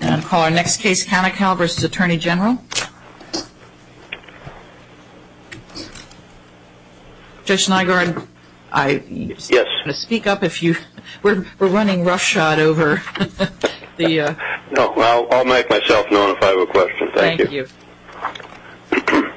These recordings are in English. And call our next case Kanikal v. Attorney General. Judge Snygard, I'm going to speak up if you, we're running roughshod over the No, I'll make myself known if I have a question. Thank you. Thank you.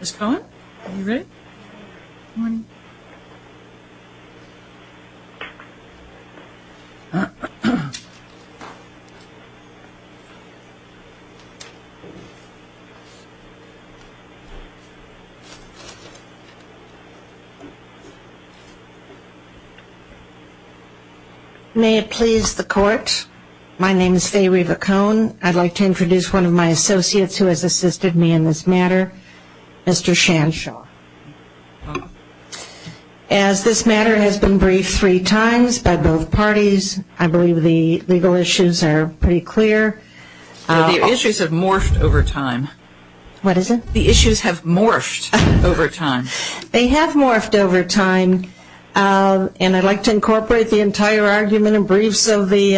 Ms. Cohen, are you ready? Morning. May it please the court, my name is Faye Reva Cohen. I'd like to introduce one of my associates who has assisted me in this matter, Mr. Shanshaw. As this matter has been briefed three times by both parties, I believe the legal issues are pretty clear. The issues have morphed over time. What is it? The issues have morphed over time. They have morphed over time and I'd like to incorporate the entire argument and briefs of the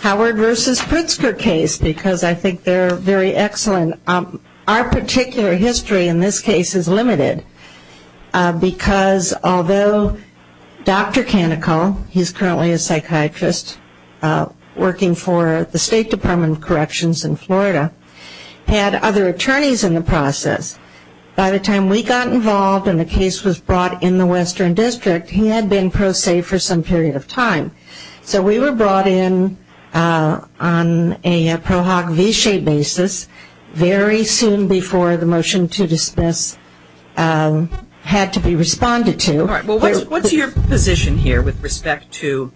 Howard v. Pritzker case because I think they're very excellent. And our particular history in this case is limited because although Dr. Kanikal, he's currently a psychiatrist working for the State Department of Corrections in Florida, had other attorneys in the process, by the time we got involved and the case was brought in the Western District, he had been period of time. So we were brought in on a pro hoc v-shaped basis very soon before the motion to dismiss had to be responded to. All right. Well, what's your position here with respect to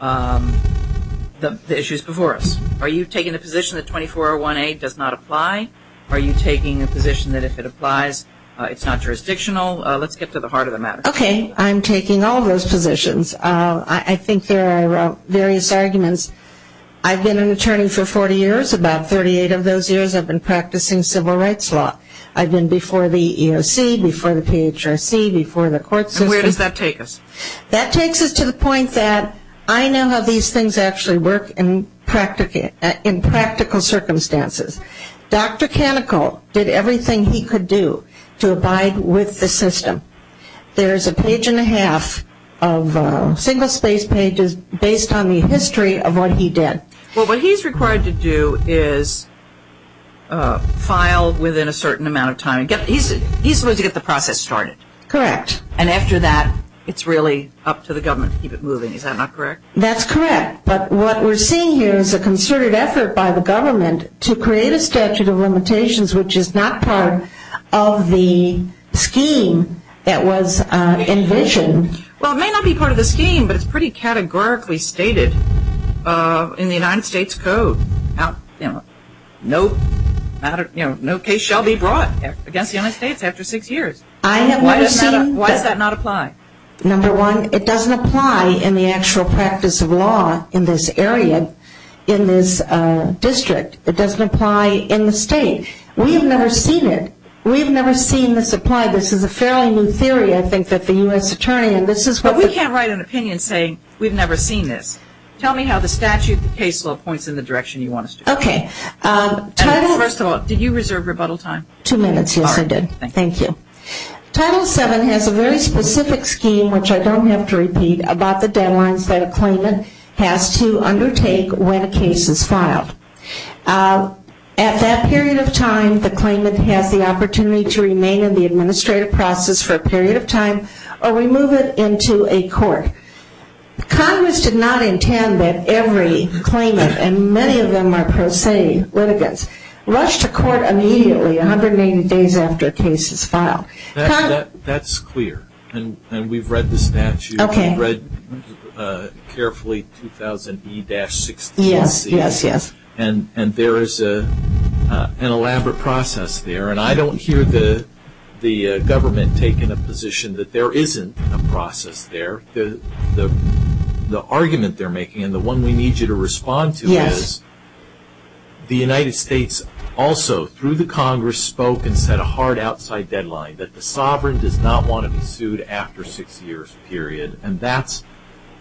the issues before us? Are you taking a position that 2401A does not apply? Are you taking a position that if it applies, it's not jurisdictional? Let's get to the heart of the matter. Okay. I'm taking all those positions. I think there are various arguments. I've been an attorney for 40 years. About 38 of those years I've been practicing civil rights law. I've been before the EEOC, before the PHRC, before the court system. Where does that take us? That takes us to the point that I know how these things actually work in practical circumstances. Dr. Kanikal did everything he could do to abide with the system. There's a page and a half of single-spaced pages based on the history of what he did. Well, what he's required to do is file within a certain amount of time. He's supposed to get the process started. Correct. And after that, it's really up to the government to keep it moving. Is that not correct? That's correct. But what we're seeing here is a concerted effort by the government to create a statute of limitations, which is not part of the scheme that was envisioned. Well, it may not be part of the scheme, but it's pretty categorically stated in the United States Code. No case shall be brought against the United States after six years. Why does that not apply? Number one, it doesn't apply in the actual practice of law in this area, in this district. It doesn't apply in the state. We have never seen it. We have never seen this apply. This is a fairly new theory, I think, that the U.S. Attorney and this is what the- But we can't write an opinion saying we've never seen this. Tell me how the statute, the case law points in the direction you want us to. Okay. Title- First of all, did you reserve rebuttal time? Two minutes. Yes, I did. Thank you. Title VII has a very specific scheme, which I don't have to repeat, about the deadlines that a claimant has to undertake when a case is filed. At that period of time, the claimant has the opportunity to remain in the administrative process for a period of time or remove it into a court. Congress did not intend that every claimant, and many of them are pro se litigants, rush to court immediately 180 days after a case is filed. That's clear, and we've read the statute. Okay. We've read carefully 2000E-62C. Yes, yes, yes. And there is an elaborate process there, and I don't hear the government taking a position that there isn't a process there. The argument they're making and the one we need you to respond to is the United States also, through the Congress, spoke and set a hard outside deadline, that the sovereign does not want to be sued after six years, period. And that's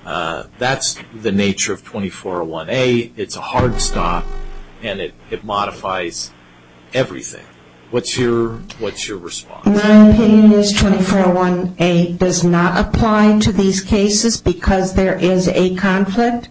the nature of 2401A. It's a hard stop, and it modifies everything. What's your response? My opinion is 2401A does not apply to these cases because there is a conflict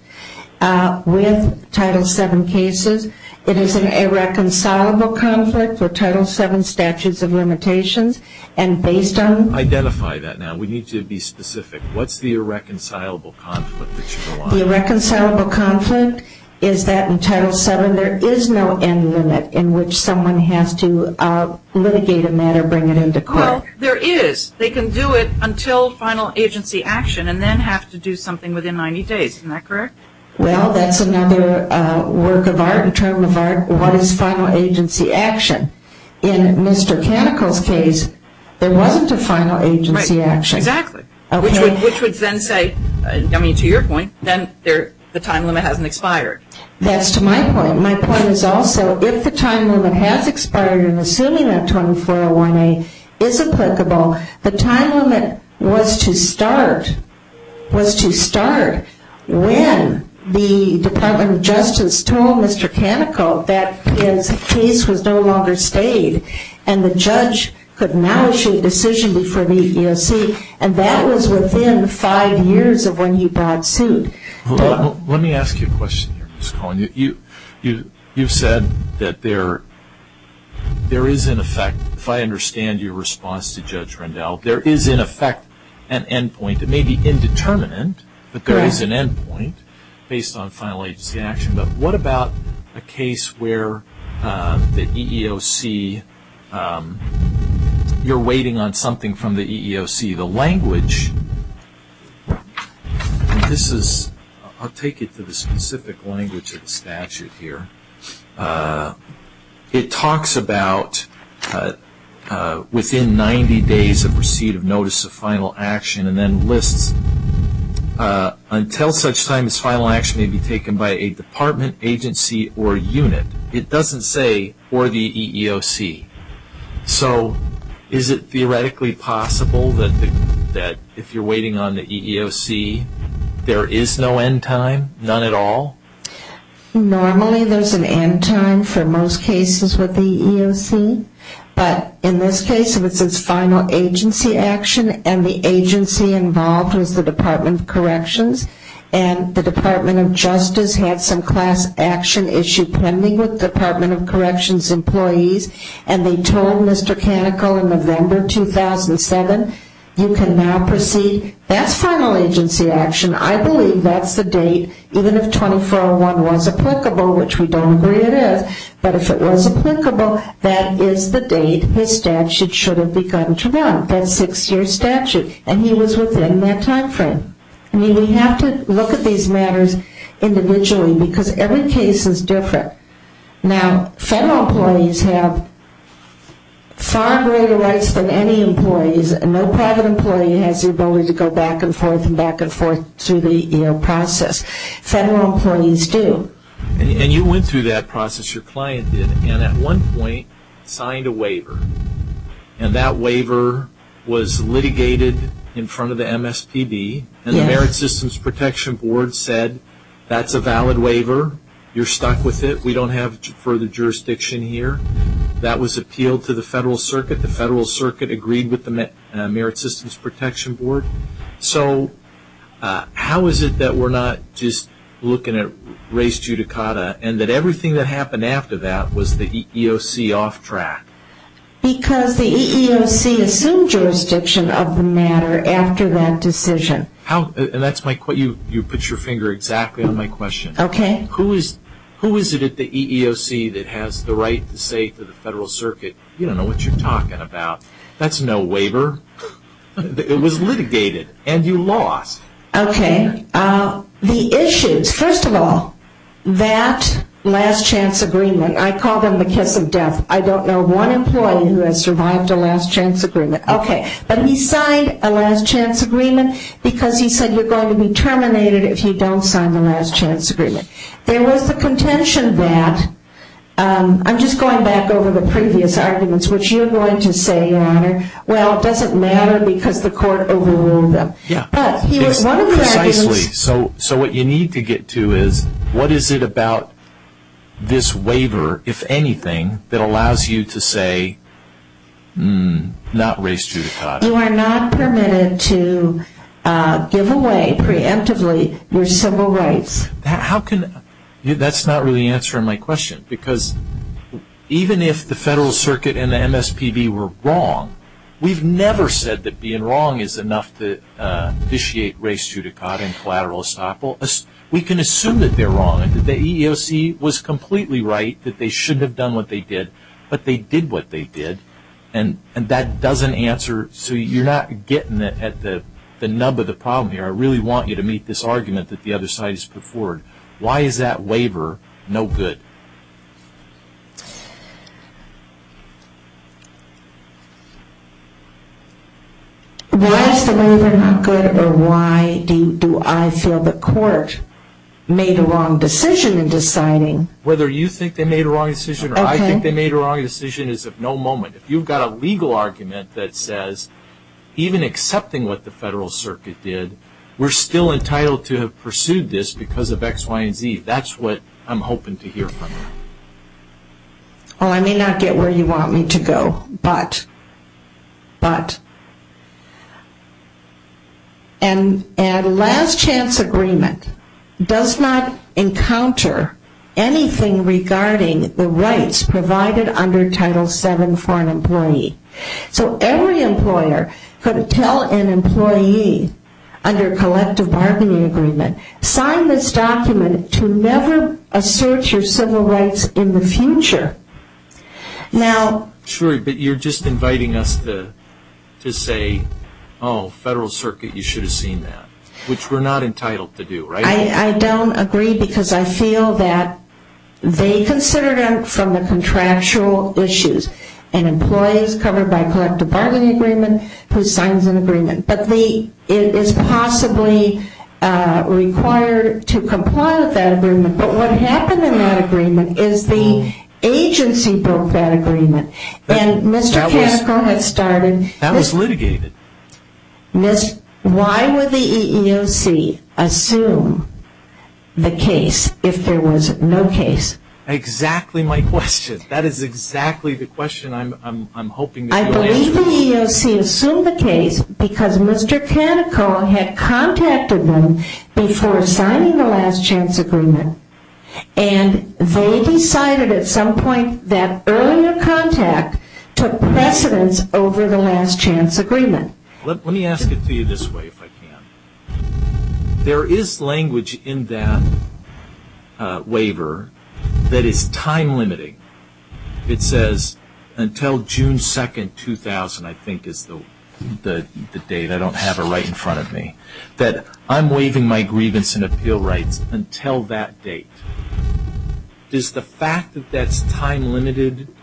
with Title VII cases. It is an irreconcilable conflict for Title VII statutes of limitations. And based on- Identify that now. We need you to be specific. What's the irreconcilable conflict that you want? The irreconcilable conflict is that in Title VII there is no end limit in which someone has to litigate a matter, bring it into court. Well, there is. They can do it until final agency action and then have to do something within 90 days. Isn't that correct? Well, that's another work of art and term of art. What is final agency action? In Mr. Canicle's case, there wasn't a final agency action. Right. Exactly. Which would then say, I mean, to your point, then the time limit hasn't expired. That's to my point. My point is also if the time limit has expired and assuming that 2401A is applicable, the time limit was to start when the Department of Justice told Mr. Canicle that his case was no longer stayed and the judge could now issue a decision before the EEOC, and that was within five years of when he brought suit. You've said that there is, in effect, if I understand your response to Judge Rendell, there is, in effect, an end point. It may be indeterminate, but there is an end point based on final agency action. But what about a case where the EEOC, you're waiting on something from the EEOC, the language, and this is, I'll take it to the specific language of the statute here, it talks about within 90 days of receipt of notice of final action and then lists until such time as final action may be taken by a department, agency, or unit. It doesn't say or the EEOC. So is it theoretically possible that if you're waiting on the EEOC, there is no end time, none at all? Normally there's an end time for most cases with the EEOC, but in this case it was final agency action and the agency involved was the Department of Corrections and the Department of Justice had some class action issue pending with Department of Corrections employees and they told Mr. Canicle in November 2007, you can now proceed. That's final agency action. I believe that's the date, even if 2401 was applicable, which we don't agree it is, but if it was applicable, that is the date his statute should have begun to run, that six-year statute, and he was within that time frame. I mean, we have to look at these matters individually because every case is different. Now, federal employees have far greater rights than any employees. No private employee has the ability to go back and forth and back and forth through the EEOC process. Federal employees do. And you went through that process, your client did, and at one point signed a waiver and that waiver was litigated in front of the MSPB and the Merit Systems Protection Board said that's a valid waiver, you're stuck with it, we don't have further jurisdiction here. That was appealed to the federal circuit. The federal circuit agreed with the Merit Systems Protection Board. So how is it that we're not just looking at race judicata and that everything that happened after that was the EEOC off track? Because the EEOC assumed jurisdiction of the matter after that decision. And you put your finger exactly on my question. Okay. Who is it at the EEOC that has the right to say to the federal circuit, you don't know what you're talking about, that's no waiver? It was litigated and you lost. Okay. The issues, first of all, that last chance agreement, I call them the kiss of death, I don't know one employee who has survived a last chance agreement. Okay. But he signed a last chance agreement because he said you're going to be terminated if you don't sign the last chance agreement. There was the contention that, I'm just going back over the previous arguments, which you're going to say, your honor, well, it doesn't matter because the court overruled them. Yeah. Precisely. So what you need to get to is, what is it about this waiver, if anything, that allows you to say, not race judicata? You are not permitted to give away preemptively your civil rights. That's not really answering my question. Because even if the federal circuit and the MSPB were wrong, we've never said that being wrong is enough to initiate race judicata and collateral estoppel. We can assume that they're wrong and that the EEOC was completely right, that they shouldn't have done what they did, but they did what they did. And that doesn't answer, so you're not getting at the nub of the problem here. I really want you to meet this argument that the other side has put forward. Why is that waiver no good? Why is the waiver not good or why do I feel the court made a wrong decision in deciding? Whether you think they made a wrong decision or I think they made a wrong decision is of no moment. If you've got a legal argument that says, even accepting what the federal circuit did, we're still entitled to have pursued this because of X, Y, and Z. That's what I'm hoping to hear from you. I may not get where you want me to go, but a last chance agreement does not encounter anything regarding the rights provided under Title VII for an employee. So every employer could tell an employee under collective bargaining agreement, sign this document to never assert your civil rights in the future. Sure, but you're just inviting us to say, oh, federal circuit, you should have seen that, which we're not entitled to do, right? I don't agree because I feel that they considered it from the contractual issues and employees covered by collective bargaining agreement who signs an agreement. But it is possibly required to comply with that agreement. But what happened in that agreement is the agency broke that agreement. That was litigated. Why would the EEOC assume the case if there was no case? Exactly my question. That is exactly the question I'm hoping to hear. I believe the EEOC assumed the case because Mr. Canico had contacted them before signing the last chance agreement. And they decided at some point that earlier contact took precedence over the last chance agreement. There is language in that waiver that is time limiting. It says until June 2, 2000, I think is the date. I don't have it right in front of me. That I'm waiving my grievance and appeal rights until that date. Does the fact that that's time limited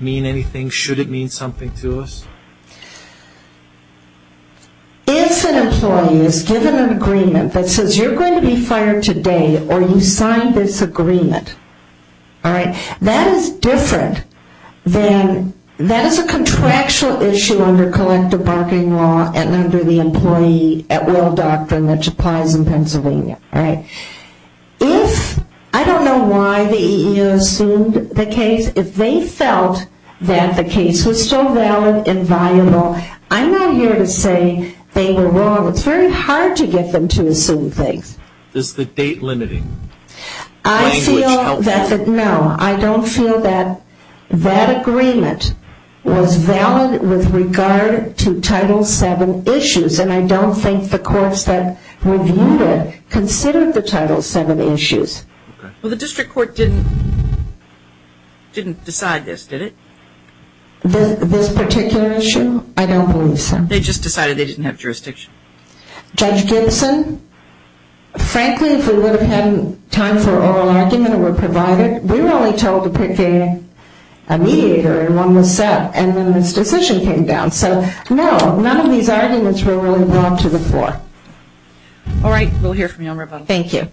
mean anything? Should it mean something to us? If an employee is given an agreement that says you're going to be fired today or you signed this agreement, that is different than that is a contractual issue under collective bargaining law and under the employee at will doctrine which applies in Pennsylvania. I don't know why the EEOC assumed the case. If they felt that the case was still valid and viable, I'm not here to say they were wrong. It's very hard to get them to assume things. Is the date limiting? I feel that no. I don't feel that that agreement was valid with regard to Title VII issues. And I don't think the courts that reviewed it considered the Title VII issues. Well, the district court didn't decide this, did it? This particular issue? I don't believe so. They just decided they didn't have jurisdiction. Judge Gibson? Frankly, if we would have had time for an oral argument and were provided, we were only told to pick a mediator and one was set and then this decision came down. So, no, none of these arguments were really brought to the floor. All right. We'll hear from you on rebuttal. Thank you.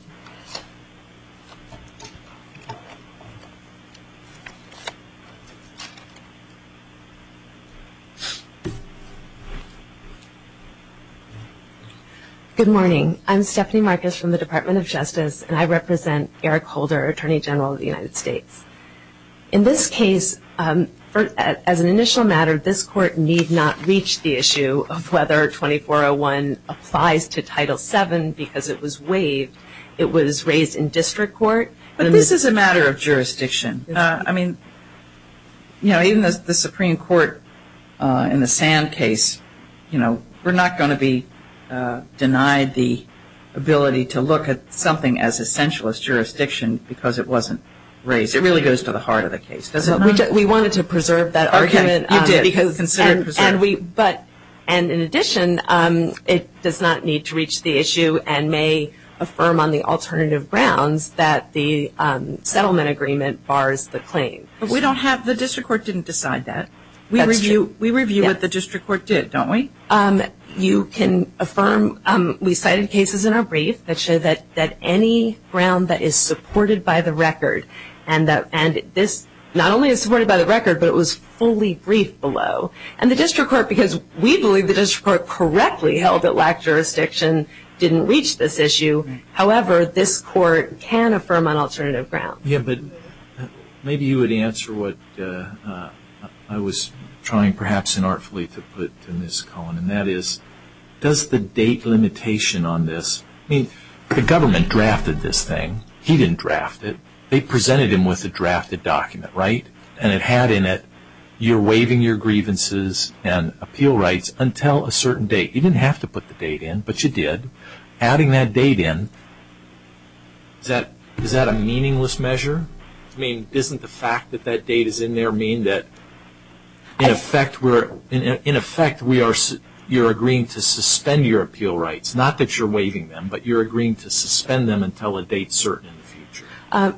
Good morning. I'm Stephanie Marcus from the Department of Justice, and I represent Eric Holder, Attorney General of the United States. In this case, as an initial matter, this court need not reach the issue of whether 2401 applies to Title VII because it was waived. It was raised in district court. But this is a matter of jurisdiction. I mean, you know, even the Supreme Court in the Sand case, you know, we're not going to be denied the ability to look at something as essential as jurisdiction because it wasn't raised. It really goes to the heart of the case, doesn't it? We wanted to preserve that argument. You did. Consider it preserved. And in addition, it does not need to reach the issue and may affirm on the alternative grounds that the settlement agreement bars the claim. But we don't have the district court didn't decide that. We review what the district court did, don't we? You can affirm. We cited cases in our brief that show that any ground that is supported by the record, and this not only is supported by the record, but it was fully briefed below. And the district court, because we believe the district court correctly held that lack of jurisdiction didn't reach this issue. However, this court can affirm on alternative grounds. Yeah, but maybe you would answer what I was trying perhaps inartfully to put to Ms. Cohen, and that is does the date limitation on this, I mean, the government drafted this thing. He didn't draft it. They presented him with a drafted document, right? And it had in it, you're waiving your grievances and appeal rights until a certain date. You didn't have to put the date in, but you did. Adding that date in, is that a meaningless measure? I mean, doesn't the fact that that date is in there mean that in effect, you're agreeing to suspend your appeal rights, not that you're waiving them, but you're agreeing to suspend them until a date certain in the future?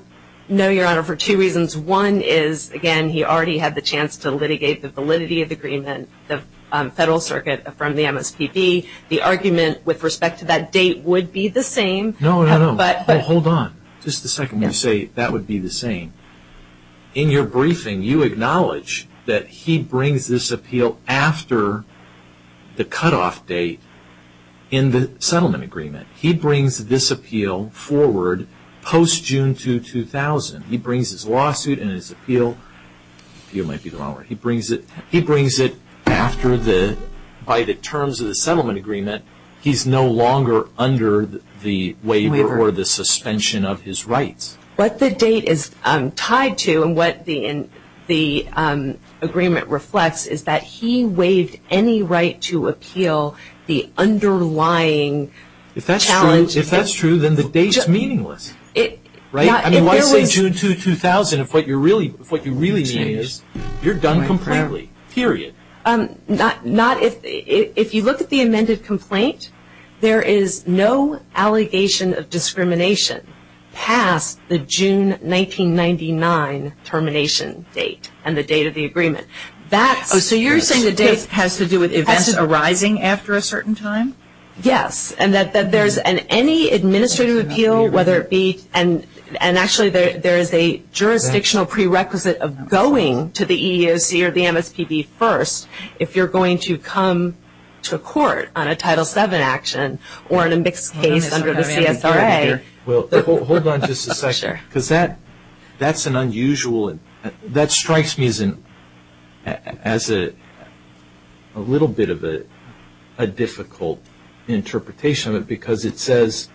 No, Your Honor, for two reasons. One is, again, he already had the chance to litigate the validity of the agreement, the federal circuit from the MSPB. The argument with respect to that date would be the same. No, no, no. Hold on. Just a second. When you say that would be the same, in your briefing, you acknowledge that he brings this appeal after the cutoff date in the settlement agreement. He brings this appeal forward post-June 2, 2000. He brings his lawsuit and his appeal. He brings it after the, by the terms of the settlement agreement. He's no longer under the waiver or the suspension of his rights. What the date is tied to and what the agreement reflects is that he waived any right to appeal the underlying challenge. If that's true, then the date is meaningless. Right? I mean, why say June 2, 2000 if what you really mean is you're done completely, period. If you look at the amended complaint, there is no allegation of discrimination past the June 1999 termination date and the date of the agreement. So you're saying the date has to do with events arising after a certain time? Yes, and that there's any administrative appeal, whether it be, and actually there is a jurisdictional prerequisite of going to the EEOC or the MSPB first if you're going to come to court on a Title VII action or in a mixed case under the CSRA. Well, hold on just a second because that's an unusual, that strikes me as a little bit of a difficult interpretation of it because it says,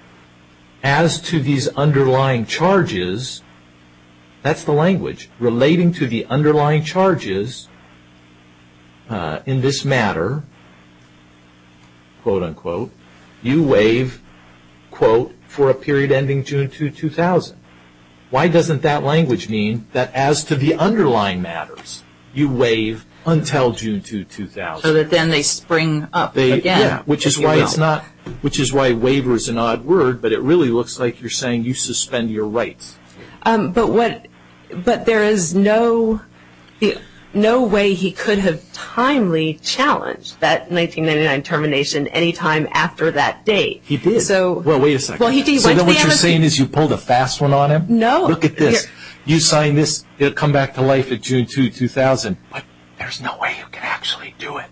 as to these underlying charges, that's the language, relating to the underlying charges in this matter, quote, unquote, you waive, quote, for a period ending June 2, 2000. Why doesn't that language mean that as to the underlying matters, you waive until June 2, 2000? So that then they spring up again. Yeah, which is why it's not, which is why waiver is an odd word, but it really looks like you're saying you suspend your rights. But there is no way he could have timely challenged that 1999 termination any time after that date. He did. Well, wait a second. So then what you're saying is you pulled a fast one on him? No. Look at this. You sign this, it'll come back to life at June 2, 2000, but there's no way you can actually do it.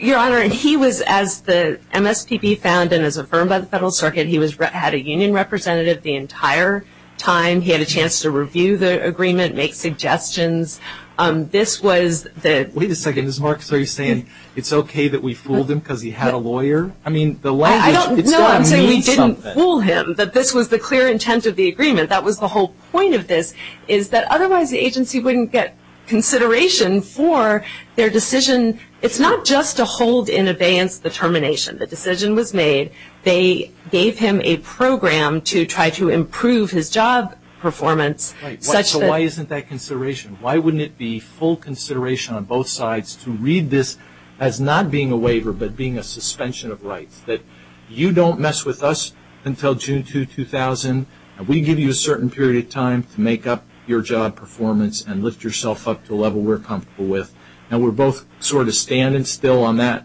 Your Honor, he was, as the MSPB found and as affirmed by the Federal Circuit, he had a union representative the entire time. He had a chance to review the agreement, make suggestions. This was the – Wait a second. Ms. Marks, are you saying it's okay that we fooled him because he had a lawyer? I mean, the language, it's got to mean something. No, I'm saying we didn't fool him, that this was the clear intent of the agreement. That was the whole point of this, is that otherwise the agency wouldn't get consideration for their decision. It's not just to hold in abeyance the termination. The decision was made. They gave him a program to try to improve his job performance. So why isn't that consideration? Why wouldn't it be full consideration on both sides to read this as not being a waiver but being a suspension of rights, that you don't mess with us until June 2, 2000, and we give you a certain period of time to make up your job performance and lift yourself up to a level we're comfortable with, and we're both sort of standing still on that,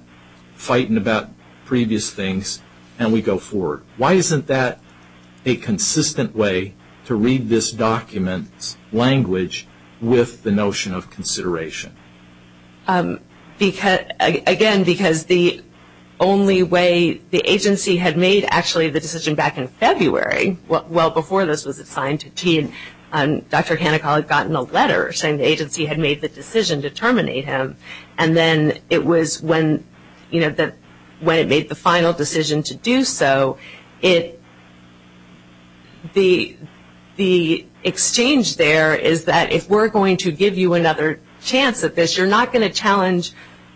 fighting about previous things, and we go forward. Why isn't that a consistent way to read this document's language with the notion of consideration? Again, because the only way the agency had made actually the decision back in February, well, before this was assigned to T, Dr. Hanekal had gotten a letter saying the agency had made the decision to terminate him, and then it was when it made the final decision to do so, the exchange there is that if we're going to give you another chance at this, you're not going to challenge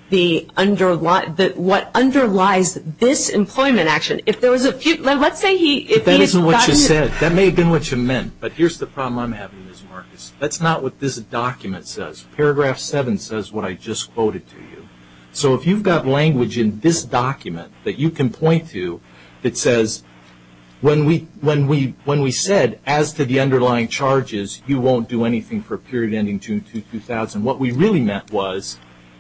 what underlies this employment action. If there was a few – let's say he – But that isn't what you said. That may have been what you meant, but here's the problem I'm having, Ms. Marcus. That's not what this document says. Paragraph 7 says what I just quoted to you. So if you've got language in this document that you can point to that says, when we said, as to the underlying charges, you won't do anything for a period ending June 2, 2000, what we really meant was,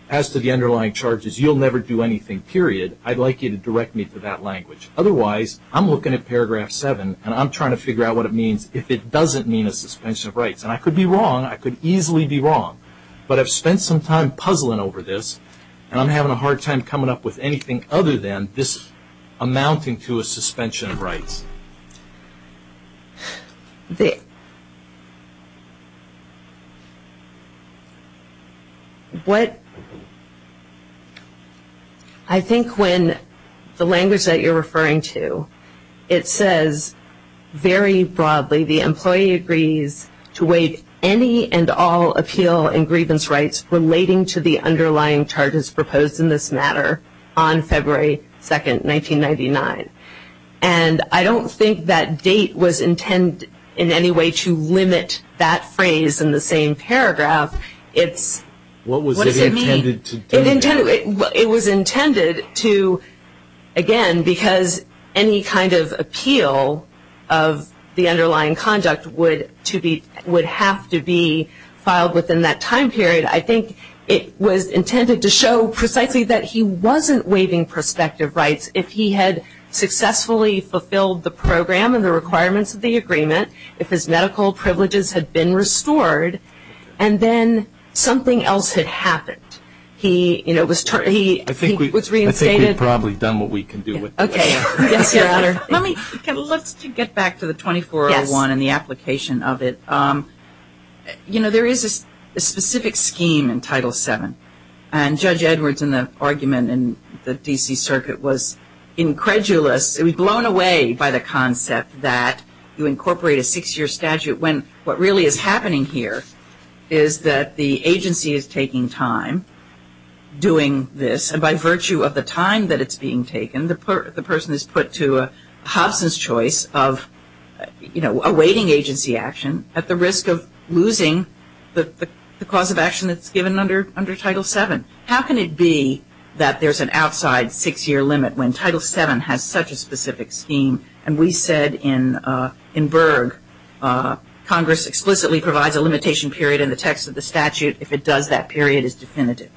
as to the underlying charges, you'll never do anything, period. I'd like you to direct me to that language. Otherwise, I'm looking at paragraph 7, and I'm trying to figure out what it means if it doesn't mean a suspension of rights. And I could be wrong. I could easily be wrong. But I've spent some time puzzling over this, and I'm having a hard time coming up with anything other than this amounting to a suspension of rights. I think when the language that you're referring to, it says very broadly, the employee agrees to waive any and all appeal and grievance rights relating to the underlying charges proposed in this matter on February 2, 1999. And I don't think that date was intended in any way to limit that phrase in the same paragraph. What does it mean? It was intended to, again, because any kind of appeal of the underlying conduct would have to be filed within that time period. I think it was intended to show precisely that he wasn't waiving prospective rights if he had successfully fulfilled the program and the requirements of the agreement, if his medical privileges had been restored, and then something else had happened. He was reinstated. I think we've probably done what we can do with this. Okay. Yes, Your Honor. Let's get back to the 2401 and the application of it. You know, there is a specific scheme in Title VII, and Judge Edwards in the argument in the D.C. Circuit was incredulous. He was blown away by the concept that you incorporate a six-year statute when what really is happening here is that the agency is taking time doing this, and by virtue of the time that it's being taken, the person is put to Hobson's choice of, you know, awaiting agency action at the risk of losing the cause of action that's given under Title VII. How can it be that there's an outside six-year limit when Title VII has such a specific scheme? And we said in Berg, Congress explicitly provides a limitation period in the text of the statute. If it does, that period is definitive.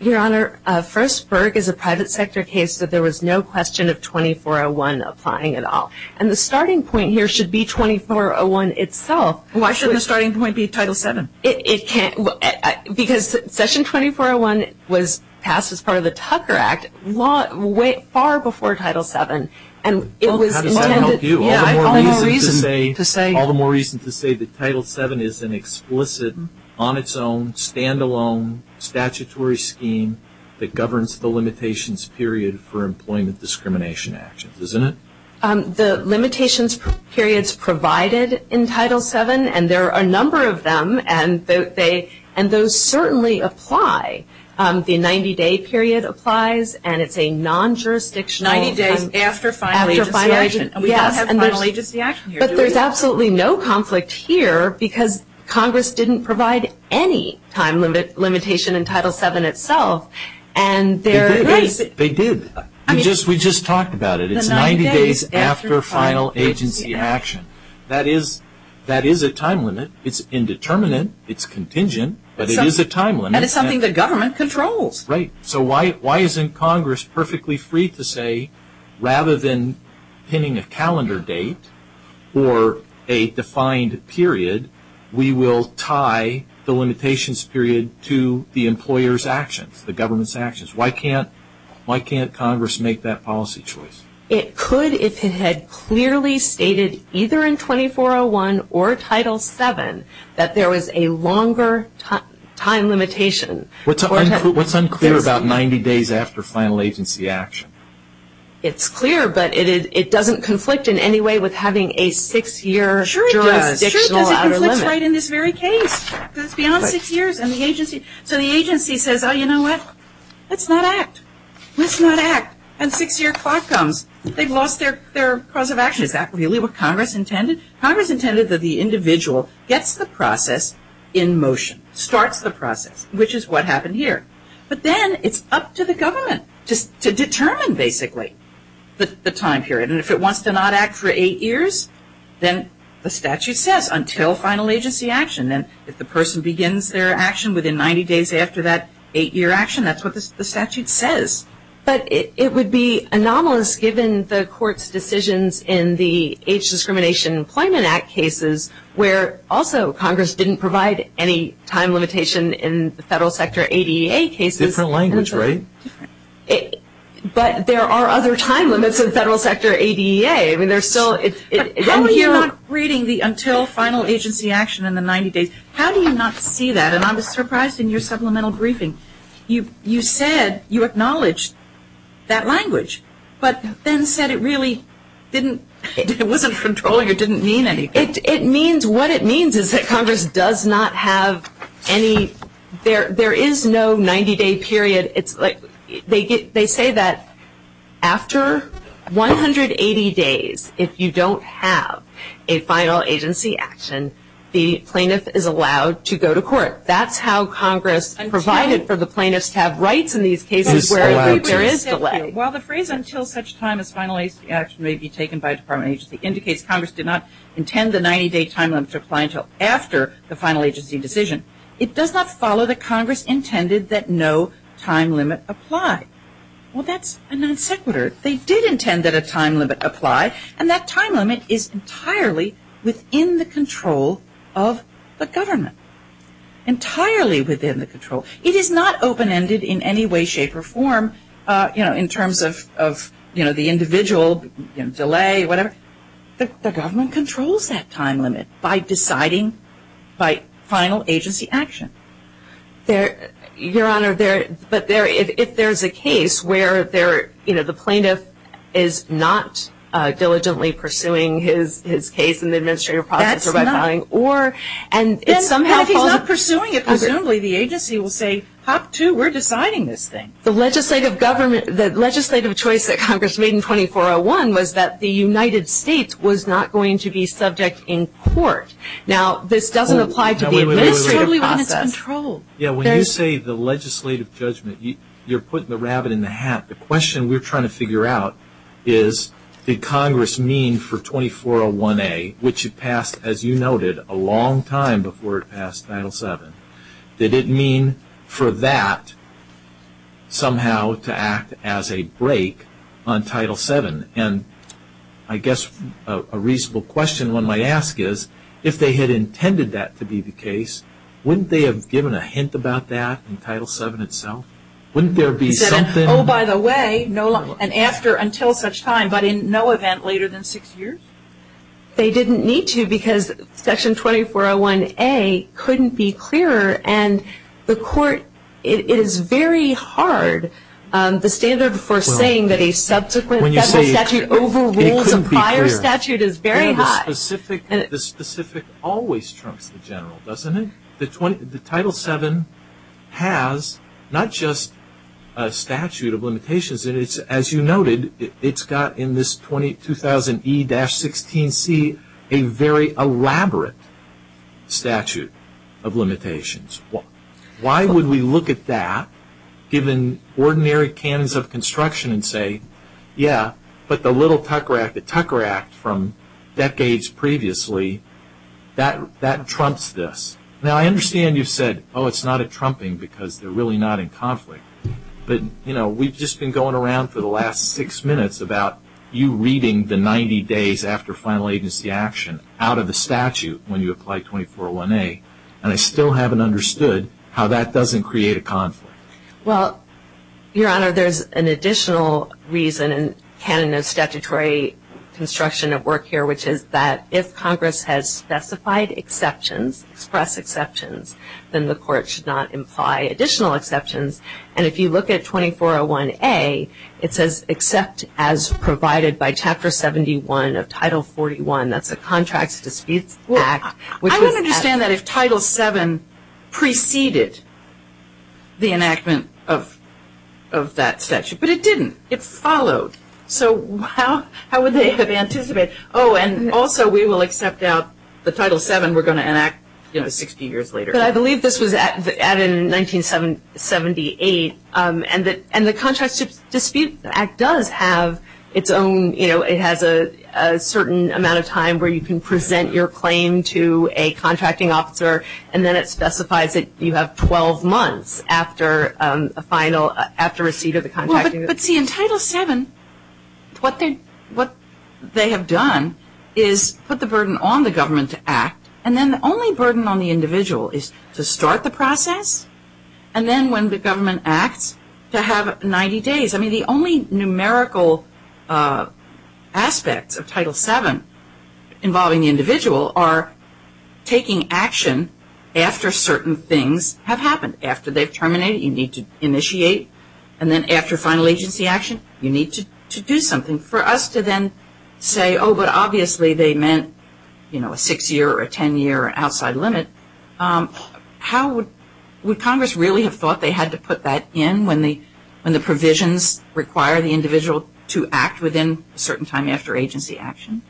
Your Honor, first, Berg is a private sector case, so there was no question of 2401 applying at all. And the starting point here should be 2401 itself. Why shouldn't the starting point be Title VII? Because Session 2401 was passed as part of the Tucker Act far before Title VII. How does that help you? All the more reason to say that Title VII is an explicit, on its own, standalone statutory scheme that governs the limitations period for employment discrimination actions, isn't it? The limitations periods provided in Title VII, and there are a number of them, and those certainly apply. The 90-day period applies, and it's a non-jurisdictional. Ninety days after final agency action. Yes. And we don't have final agency action here. But there's absolutely no conflict here, because Congress didn't provide any time limitation in Title VII itself. They did. They did. We just talked about it. It's 90 days after final agency action. That is a time limit. It's indeterminate. It's contingent. But it is a time limit. And it's something that government controls. Right. So why isn't Congress perfectly free to say, rather than pinning a calendar date or a defined period, we will tie the limitations period to the employer's actions, the government's actions. Why can't Congress make that policy choice? It could if it had clearly stated, either in 2401 or Title VII, that there was a longer time limitation. What's unclear about 90 days after final agency action? It's clear, but it doesn't conflict in any way with having a six-year jurisdictional outer limit. Sure it does. It conflicts right in this very case, because it's beyond six years. So the agency says, oh, you know what, let's not act. Let's not act. And six-year clock comes. They've lost their cause of action. Is that really what Congress intended? Congress intended that the individual gets the process in motion, starts the process, which is what happened here. But then it's up to the government to determine, basically, the time period. And if it wants to not act for eight years, then the statute says until final agency action. And if the person begins their action within 90 days after that eight-year action, that's what the statute says. But it would be anomalous, given the court's decisions in the Age Discrimination Employment Act cases, where also Congress didn't provide any time limitation in the federal sector ADEA cases. Different language, right? But there are other time limits in federal sector ADEA. I mean, there's still ‑‑ How are you not reading the until final agency action in the 90 days? How do you not see that? And I was surprised in your supplemental briefing. You said you acknowledged that language, but then said it really didn't ‑‑ It wasn't controlling it. It didn't mean anything. It means ‑‑ what it means is that Congress does not have any ‑‑ there is no 90-day period. It's like they say that after 180 days, if you don't have a final agency action, the plaintiff is allowed to go to court. That's how Congress provided for the plaintiffs to have rights in these cases where there is delay. Well, the phrase until such time as final agency action may be taken by a department agency indicates Congress did not intend the 90-day time limit to apply until after the final agency decision. It does not follow that Congress intended that no time limit apply. Well, that's a non sequitur. They did intend that a time limit apply, and that time limit is entirely within the control of the government. Entirely within the control. It is not open-ended in any way, shape, or form in terms of the individual, delay, whatever. The government controls that time limit by deciding by final agency action. Your Honor, but if there is a case where the plaintiff is not diligently pursuing his case in the administrative process or by filing, or ‑‑ If he's not pursuing it, presumably the agency will say, hop to, we're deciding this thing. The legislative choice that Congress made in 2401 was that the United States was not going to be subject in court. Now, this doesn't apply to the administrative process. When you say the legislative judgment, you're putting the rabbit in the hat. The question we're trying to figure out is, did Congress mean for 2401A, which it passed, as you noted, a long time before it passed Title VII, did it mean for that somehow to act as a break on Title VII? I guess a reasonable question one might ask is, if they had intended that to be the case, wouldn't they have given a hint about that in Title VII itself? Wouldn't there be something? Oh, by the way, no, and after, until such time, but in no event later than six years? They didn't need to because Section 2401A couldn't be clearer. And the court, it is very hard, the standard for saying that a subsequent federal statute overrules a prior statute is very hard. The specific always trumps the general, doesn't it? The Title VII has not just a statute of limitations, and it's, as you noted, it's got in this 22000E-16C a very elaborate statute of limitations. Why would we look at that, given ordinary canons of construction, and say, yeah, but the little Tucker Act, the Tucker Act from decades previously, that trumps this. Now, I understand you've said, oh, it's not a trumping because they're really not in conflict, but, you know, we've just been going around for the last six minutes about you reading the 90 days after final agency action out of the statute when you apply 2401A, and I still haven't understood how that doesn't create a conflict. Well, Your Honor, there's an additional reason in canon of statutory construction of work here, which is that if Congress has specified exceptions, expressed exceptions, then the court should not imply additional exceptions. And if you look at 2401A, it says, except as provided by Chapter 71 of Title 41, that's the Contracts of Disputes Act. I would understand that if Title VII preceded the enactment of that statute, but it didn't. It followed. So how would they have anticipated, oh, and also we will accept out the Title VII, and we're going to enact 60 years later. But I believe this was added in 1978, and the Contracts of Disputes Act does have its own, you know, it has a certain amount of time where you can present your claim to a contracting officer, and then it specifies that you have 12 months after a final, after receipt of the contract. But see, in Title VII, what they have done is put the burden on the government to act, and then the only burden on the individual is to start the process, and then when the government acts, to have 90 days. I mean, the only numerical aspects of Title VII involving the individual are taking action after certain things have happened, after they've terminated, you need to initiate, and then after final agency action, you need to do something. For us to then say, oh, but obviously they meant, you know, a six-year or a ten-year outside limit, how would Congress really have thought they had to put that in when the provisions require the individual to act within a certain time after agency action?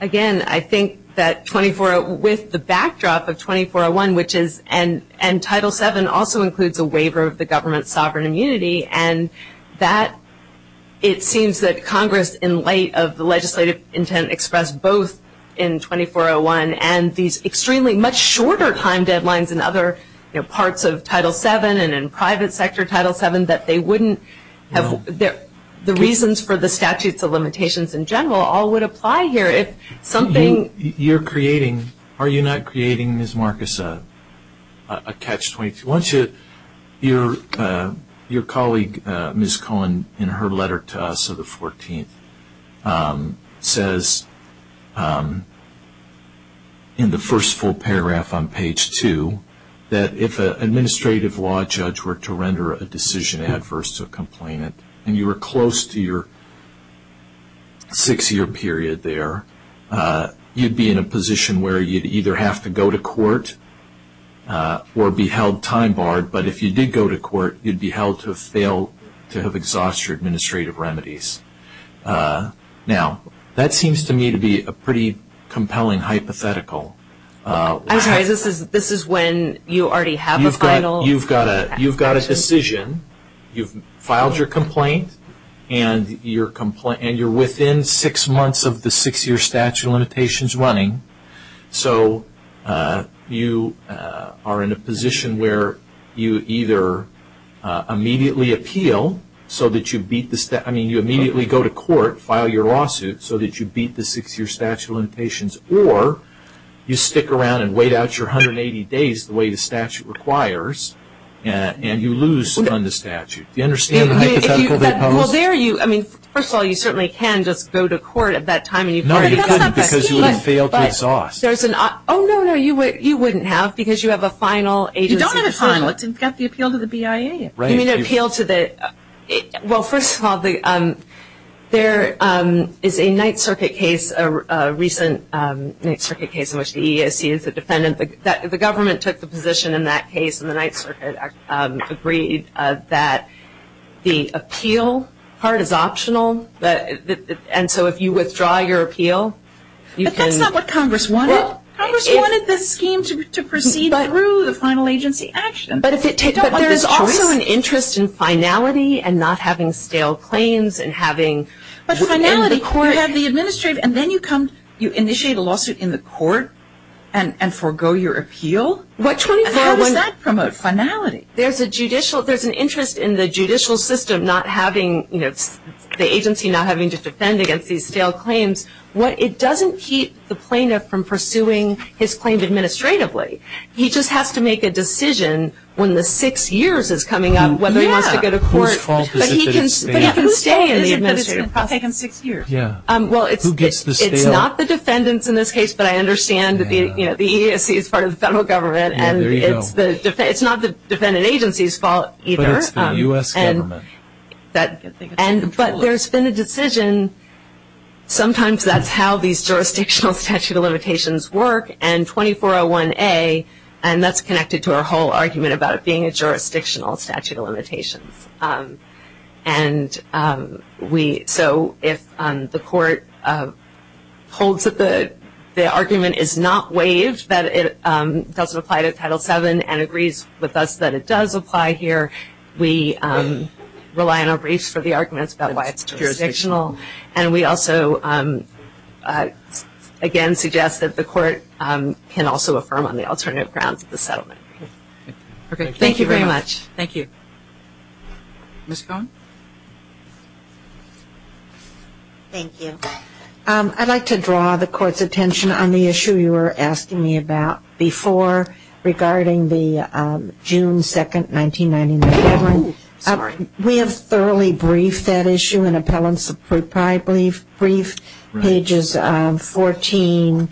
Again, I think that with the backdrop of 2401, which is, and Title VII also includes a waiver of the government's sovereign immunity, and that it seems that Congress, in light of the legislative intent expressed both in 2401 and these extremely much shorter time deadlines in other parts of Title VII and in private sector Title VII, that they wouldn't have, the reasons for the statutes of limitations in general all would apply here if something. You're creating, are you not creating, Ms. Marcus, a catch-22? Why don't you, your colleague, Ms. Cohen, in her letter to us of the 14th, says in the first full paragraph on page 2 that if an administrative law judge were to render a decision adverse to a complainant and you were close to your six-year period there, you'd be in a position where you'd either have to go to court or be held time-barred, but if you did go to court, you'd be held to have failed to have exhausted your administrative remedies. Now, that seems to me to be a pretty compelling hypothetical. I'm sorry, this is when you already have a final action? You've got a decision, you've filed your complaint, and you're within six months of the six-year statute of limitations running, so you are in a position where you either immediately appeal so that you beat the, I mean, you immediately go to court, file your lawsuit so that you beat the six-year statute of limitations, or you stick around and wait out your 180 days the way the statute requires, and you lose on the statute. Do you understand the hypothetical? Well, there you, I mean, first of all, you certainly can just go to court at that time. No, you couldn't because you would have failed to exhaust. Oh, no, no, you wouldn't have because you have a final agency decision. You don't have a final. It's got the appeal to the BIA. You mean appeal to the, well, first of all, there is a Ninth Circuit case, a recent Ninth Circuit case in which the EAC is the defendant. The government took the position in that case, and the Ninth Circuit agreed that the appeal part is optional, and so if you withdraw your appeal, you can. But that's not what Congress wanted. Congress wanted this scheme to proceed through the final agency action. But there is also an interest in finality and not having stale claims and having... But finality, you have the administrative, and then you come, you initiate a lawsuit in the court and forego your appeal? How does that promote finality? There's an interest in the judicial system not having, you know, the agency not having to defend against these stale claims. It doesn't keep the plaintiff from pursuing his claims administratively. He just has to make a decision when the six years is coming up, whether he wants to go to court. Whose fault is it that it's stale? But he can stay in the administrative process. Who's fault is it that it's been taken six years? Well, it's not the defendants in this case, but I understand that the EAC is part of the federal government, and it's not the defendant agency's fault either. But it's the U.S. government. But there's been a decision. Sometimes that's how these jurisdictional statute of limitations work, and 2401A, and that's connected to our whole argument about it being a jurisdictional statute of limitations. And so if the court holds that the argument is not waived, that it doesn't apply to Title VII and agrees with us that it does apply here, we rely on our briefs for the arguments about why it's jurisdictional. And we also, again, suggest that the court can also affirm on the alternative grounds of the settlement. Thank you very much. Thank you. Ms. Cohen? Thank you. I'd like to draw the court's attention on the issue you were asking me about before regarding the June 2, 1999 deadline. We have thoroughly briefed that issue in appellant's brief, I believe, brief pages 14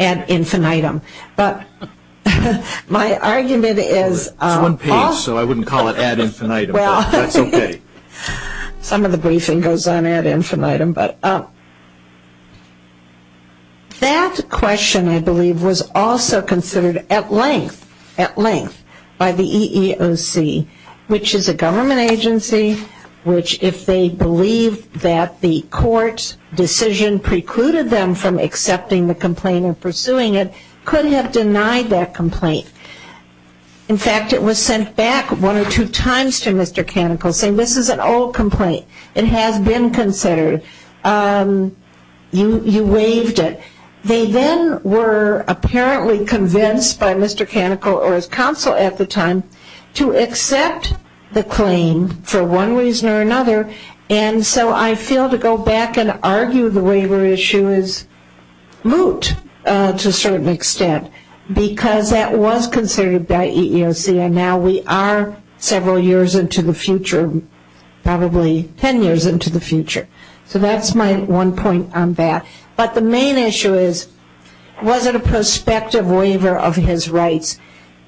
ad infinitum. But my argument is – It's one page, so I wouldn't call it ad infinitum, but that's okay. Some of the briefing goes on ad infinitum. But that question, I believe, was also considered at length by the EEOC, which is a government agency, which if they believe that the court's decision precluded them from accepting the complaint and pursuing it, could have denied that complaint. In fact, it was sent back one or two times to Mr. Canicle saying, this is an old complaint. It has been considered. You waived it. They then were apparently convinced by Mr. Canicle or his counsel at the time to accept the claim for one reason or another. And so I feel to go back and argue the waiver issue is moot to a certain extent because that was considered by EEOC, and now we are several years into the future, probably ten years into the future. So that's my one point on that. But the main issue is, was it a prospective waiver of his rights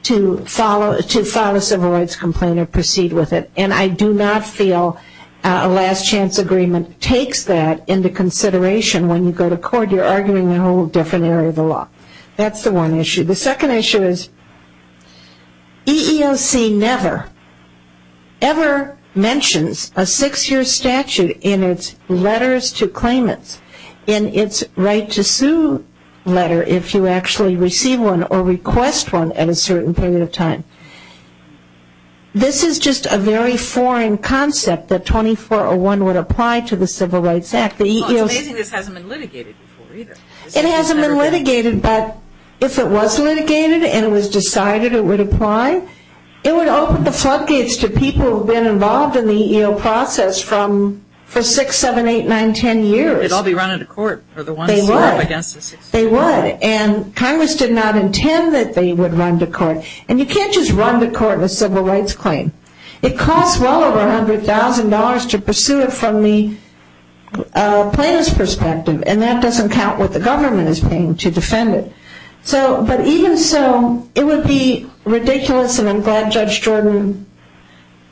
to file a civil rights complaint or proceed with it? And I do not feel a last chance agreement takes that into consideration when you go to court. You're arguing a whole different area of the law. That's the one issue. The second issue is EEOC never, ever mentions a six-year statute in its letters to claimants, in its right to sue letter if you actually receive one or request one at a certain period of time. This is just a very foreign concept that 2401 would apply to the Civil Rights Act. It's amazing this hasn't been litigated before either. It hasn't been litigated, but if it was litigated and it was decided it would apply, it would open the floodgates to people who have been involved in the EEOC process for six, seven, eight, nine, ten years. They'd all be running to court. They would. And Congress did not intend that they would run to court. And you can't just run to court with a civil rights claim. It costs well over $100,000 to pursue it from the plaintiff's perspective, and that doesn't count what the government is paying to defend it. But even so, it would be ridiculous, and I'm glad Judge Jordan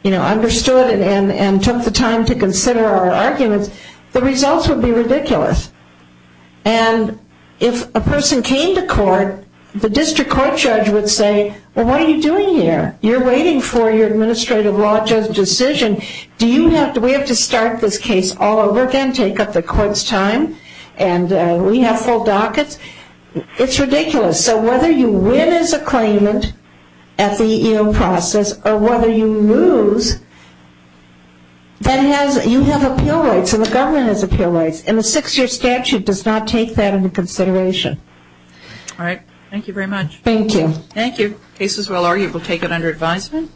understood and took the time to consider our arguments. The results would be ridiculous. And if a person came to court, the district court judge would say, well, what are you doing here? You're waiting for your administrative law judge decision. Do we have to start this case all over again, take up the court's time, and we have full dockets? It's ridiculous. So whether you win as a claimant at the EEOC process or whether you lose, you have appeal rights and the government has appeal rights, and the six-year statute does not take that into consideration. All right. Thank you very much. Thank you. Thank you. Cases well argued, we'll take it under advisement.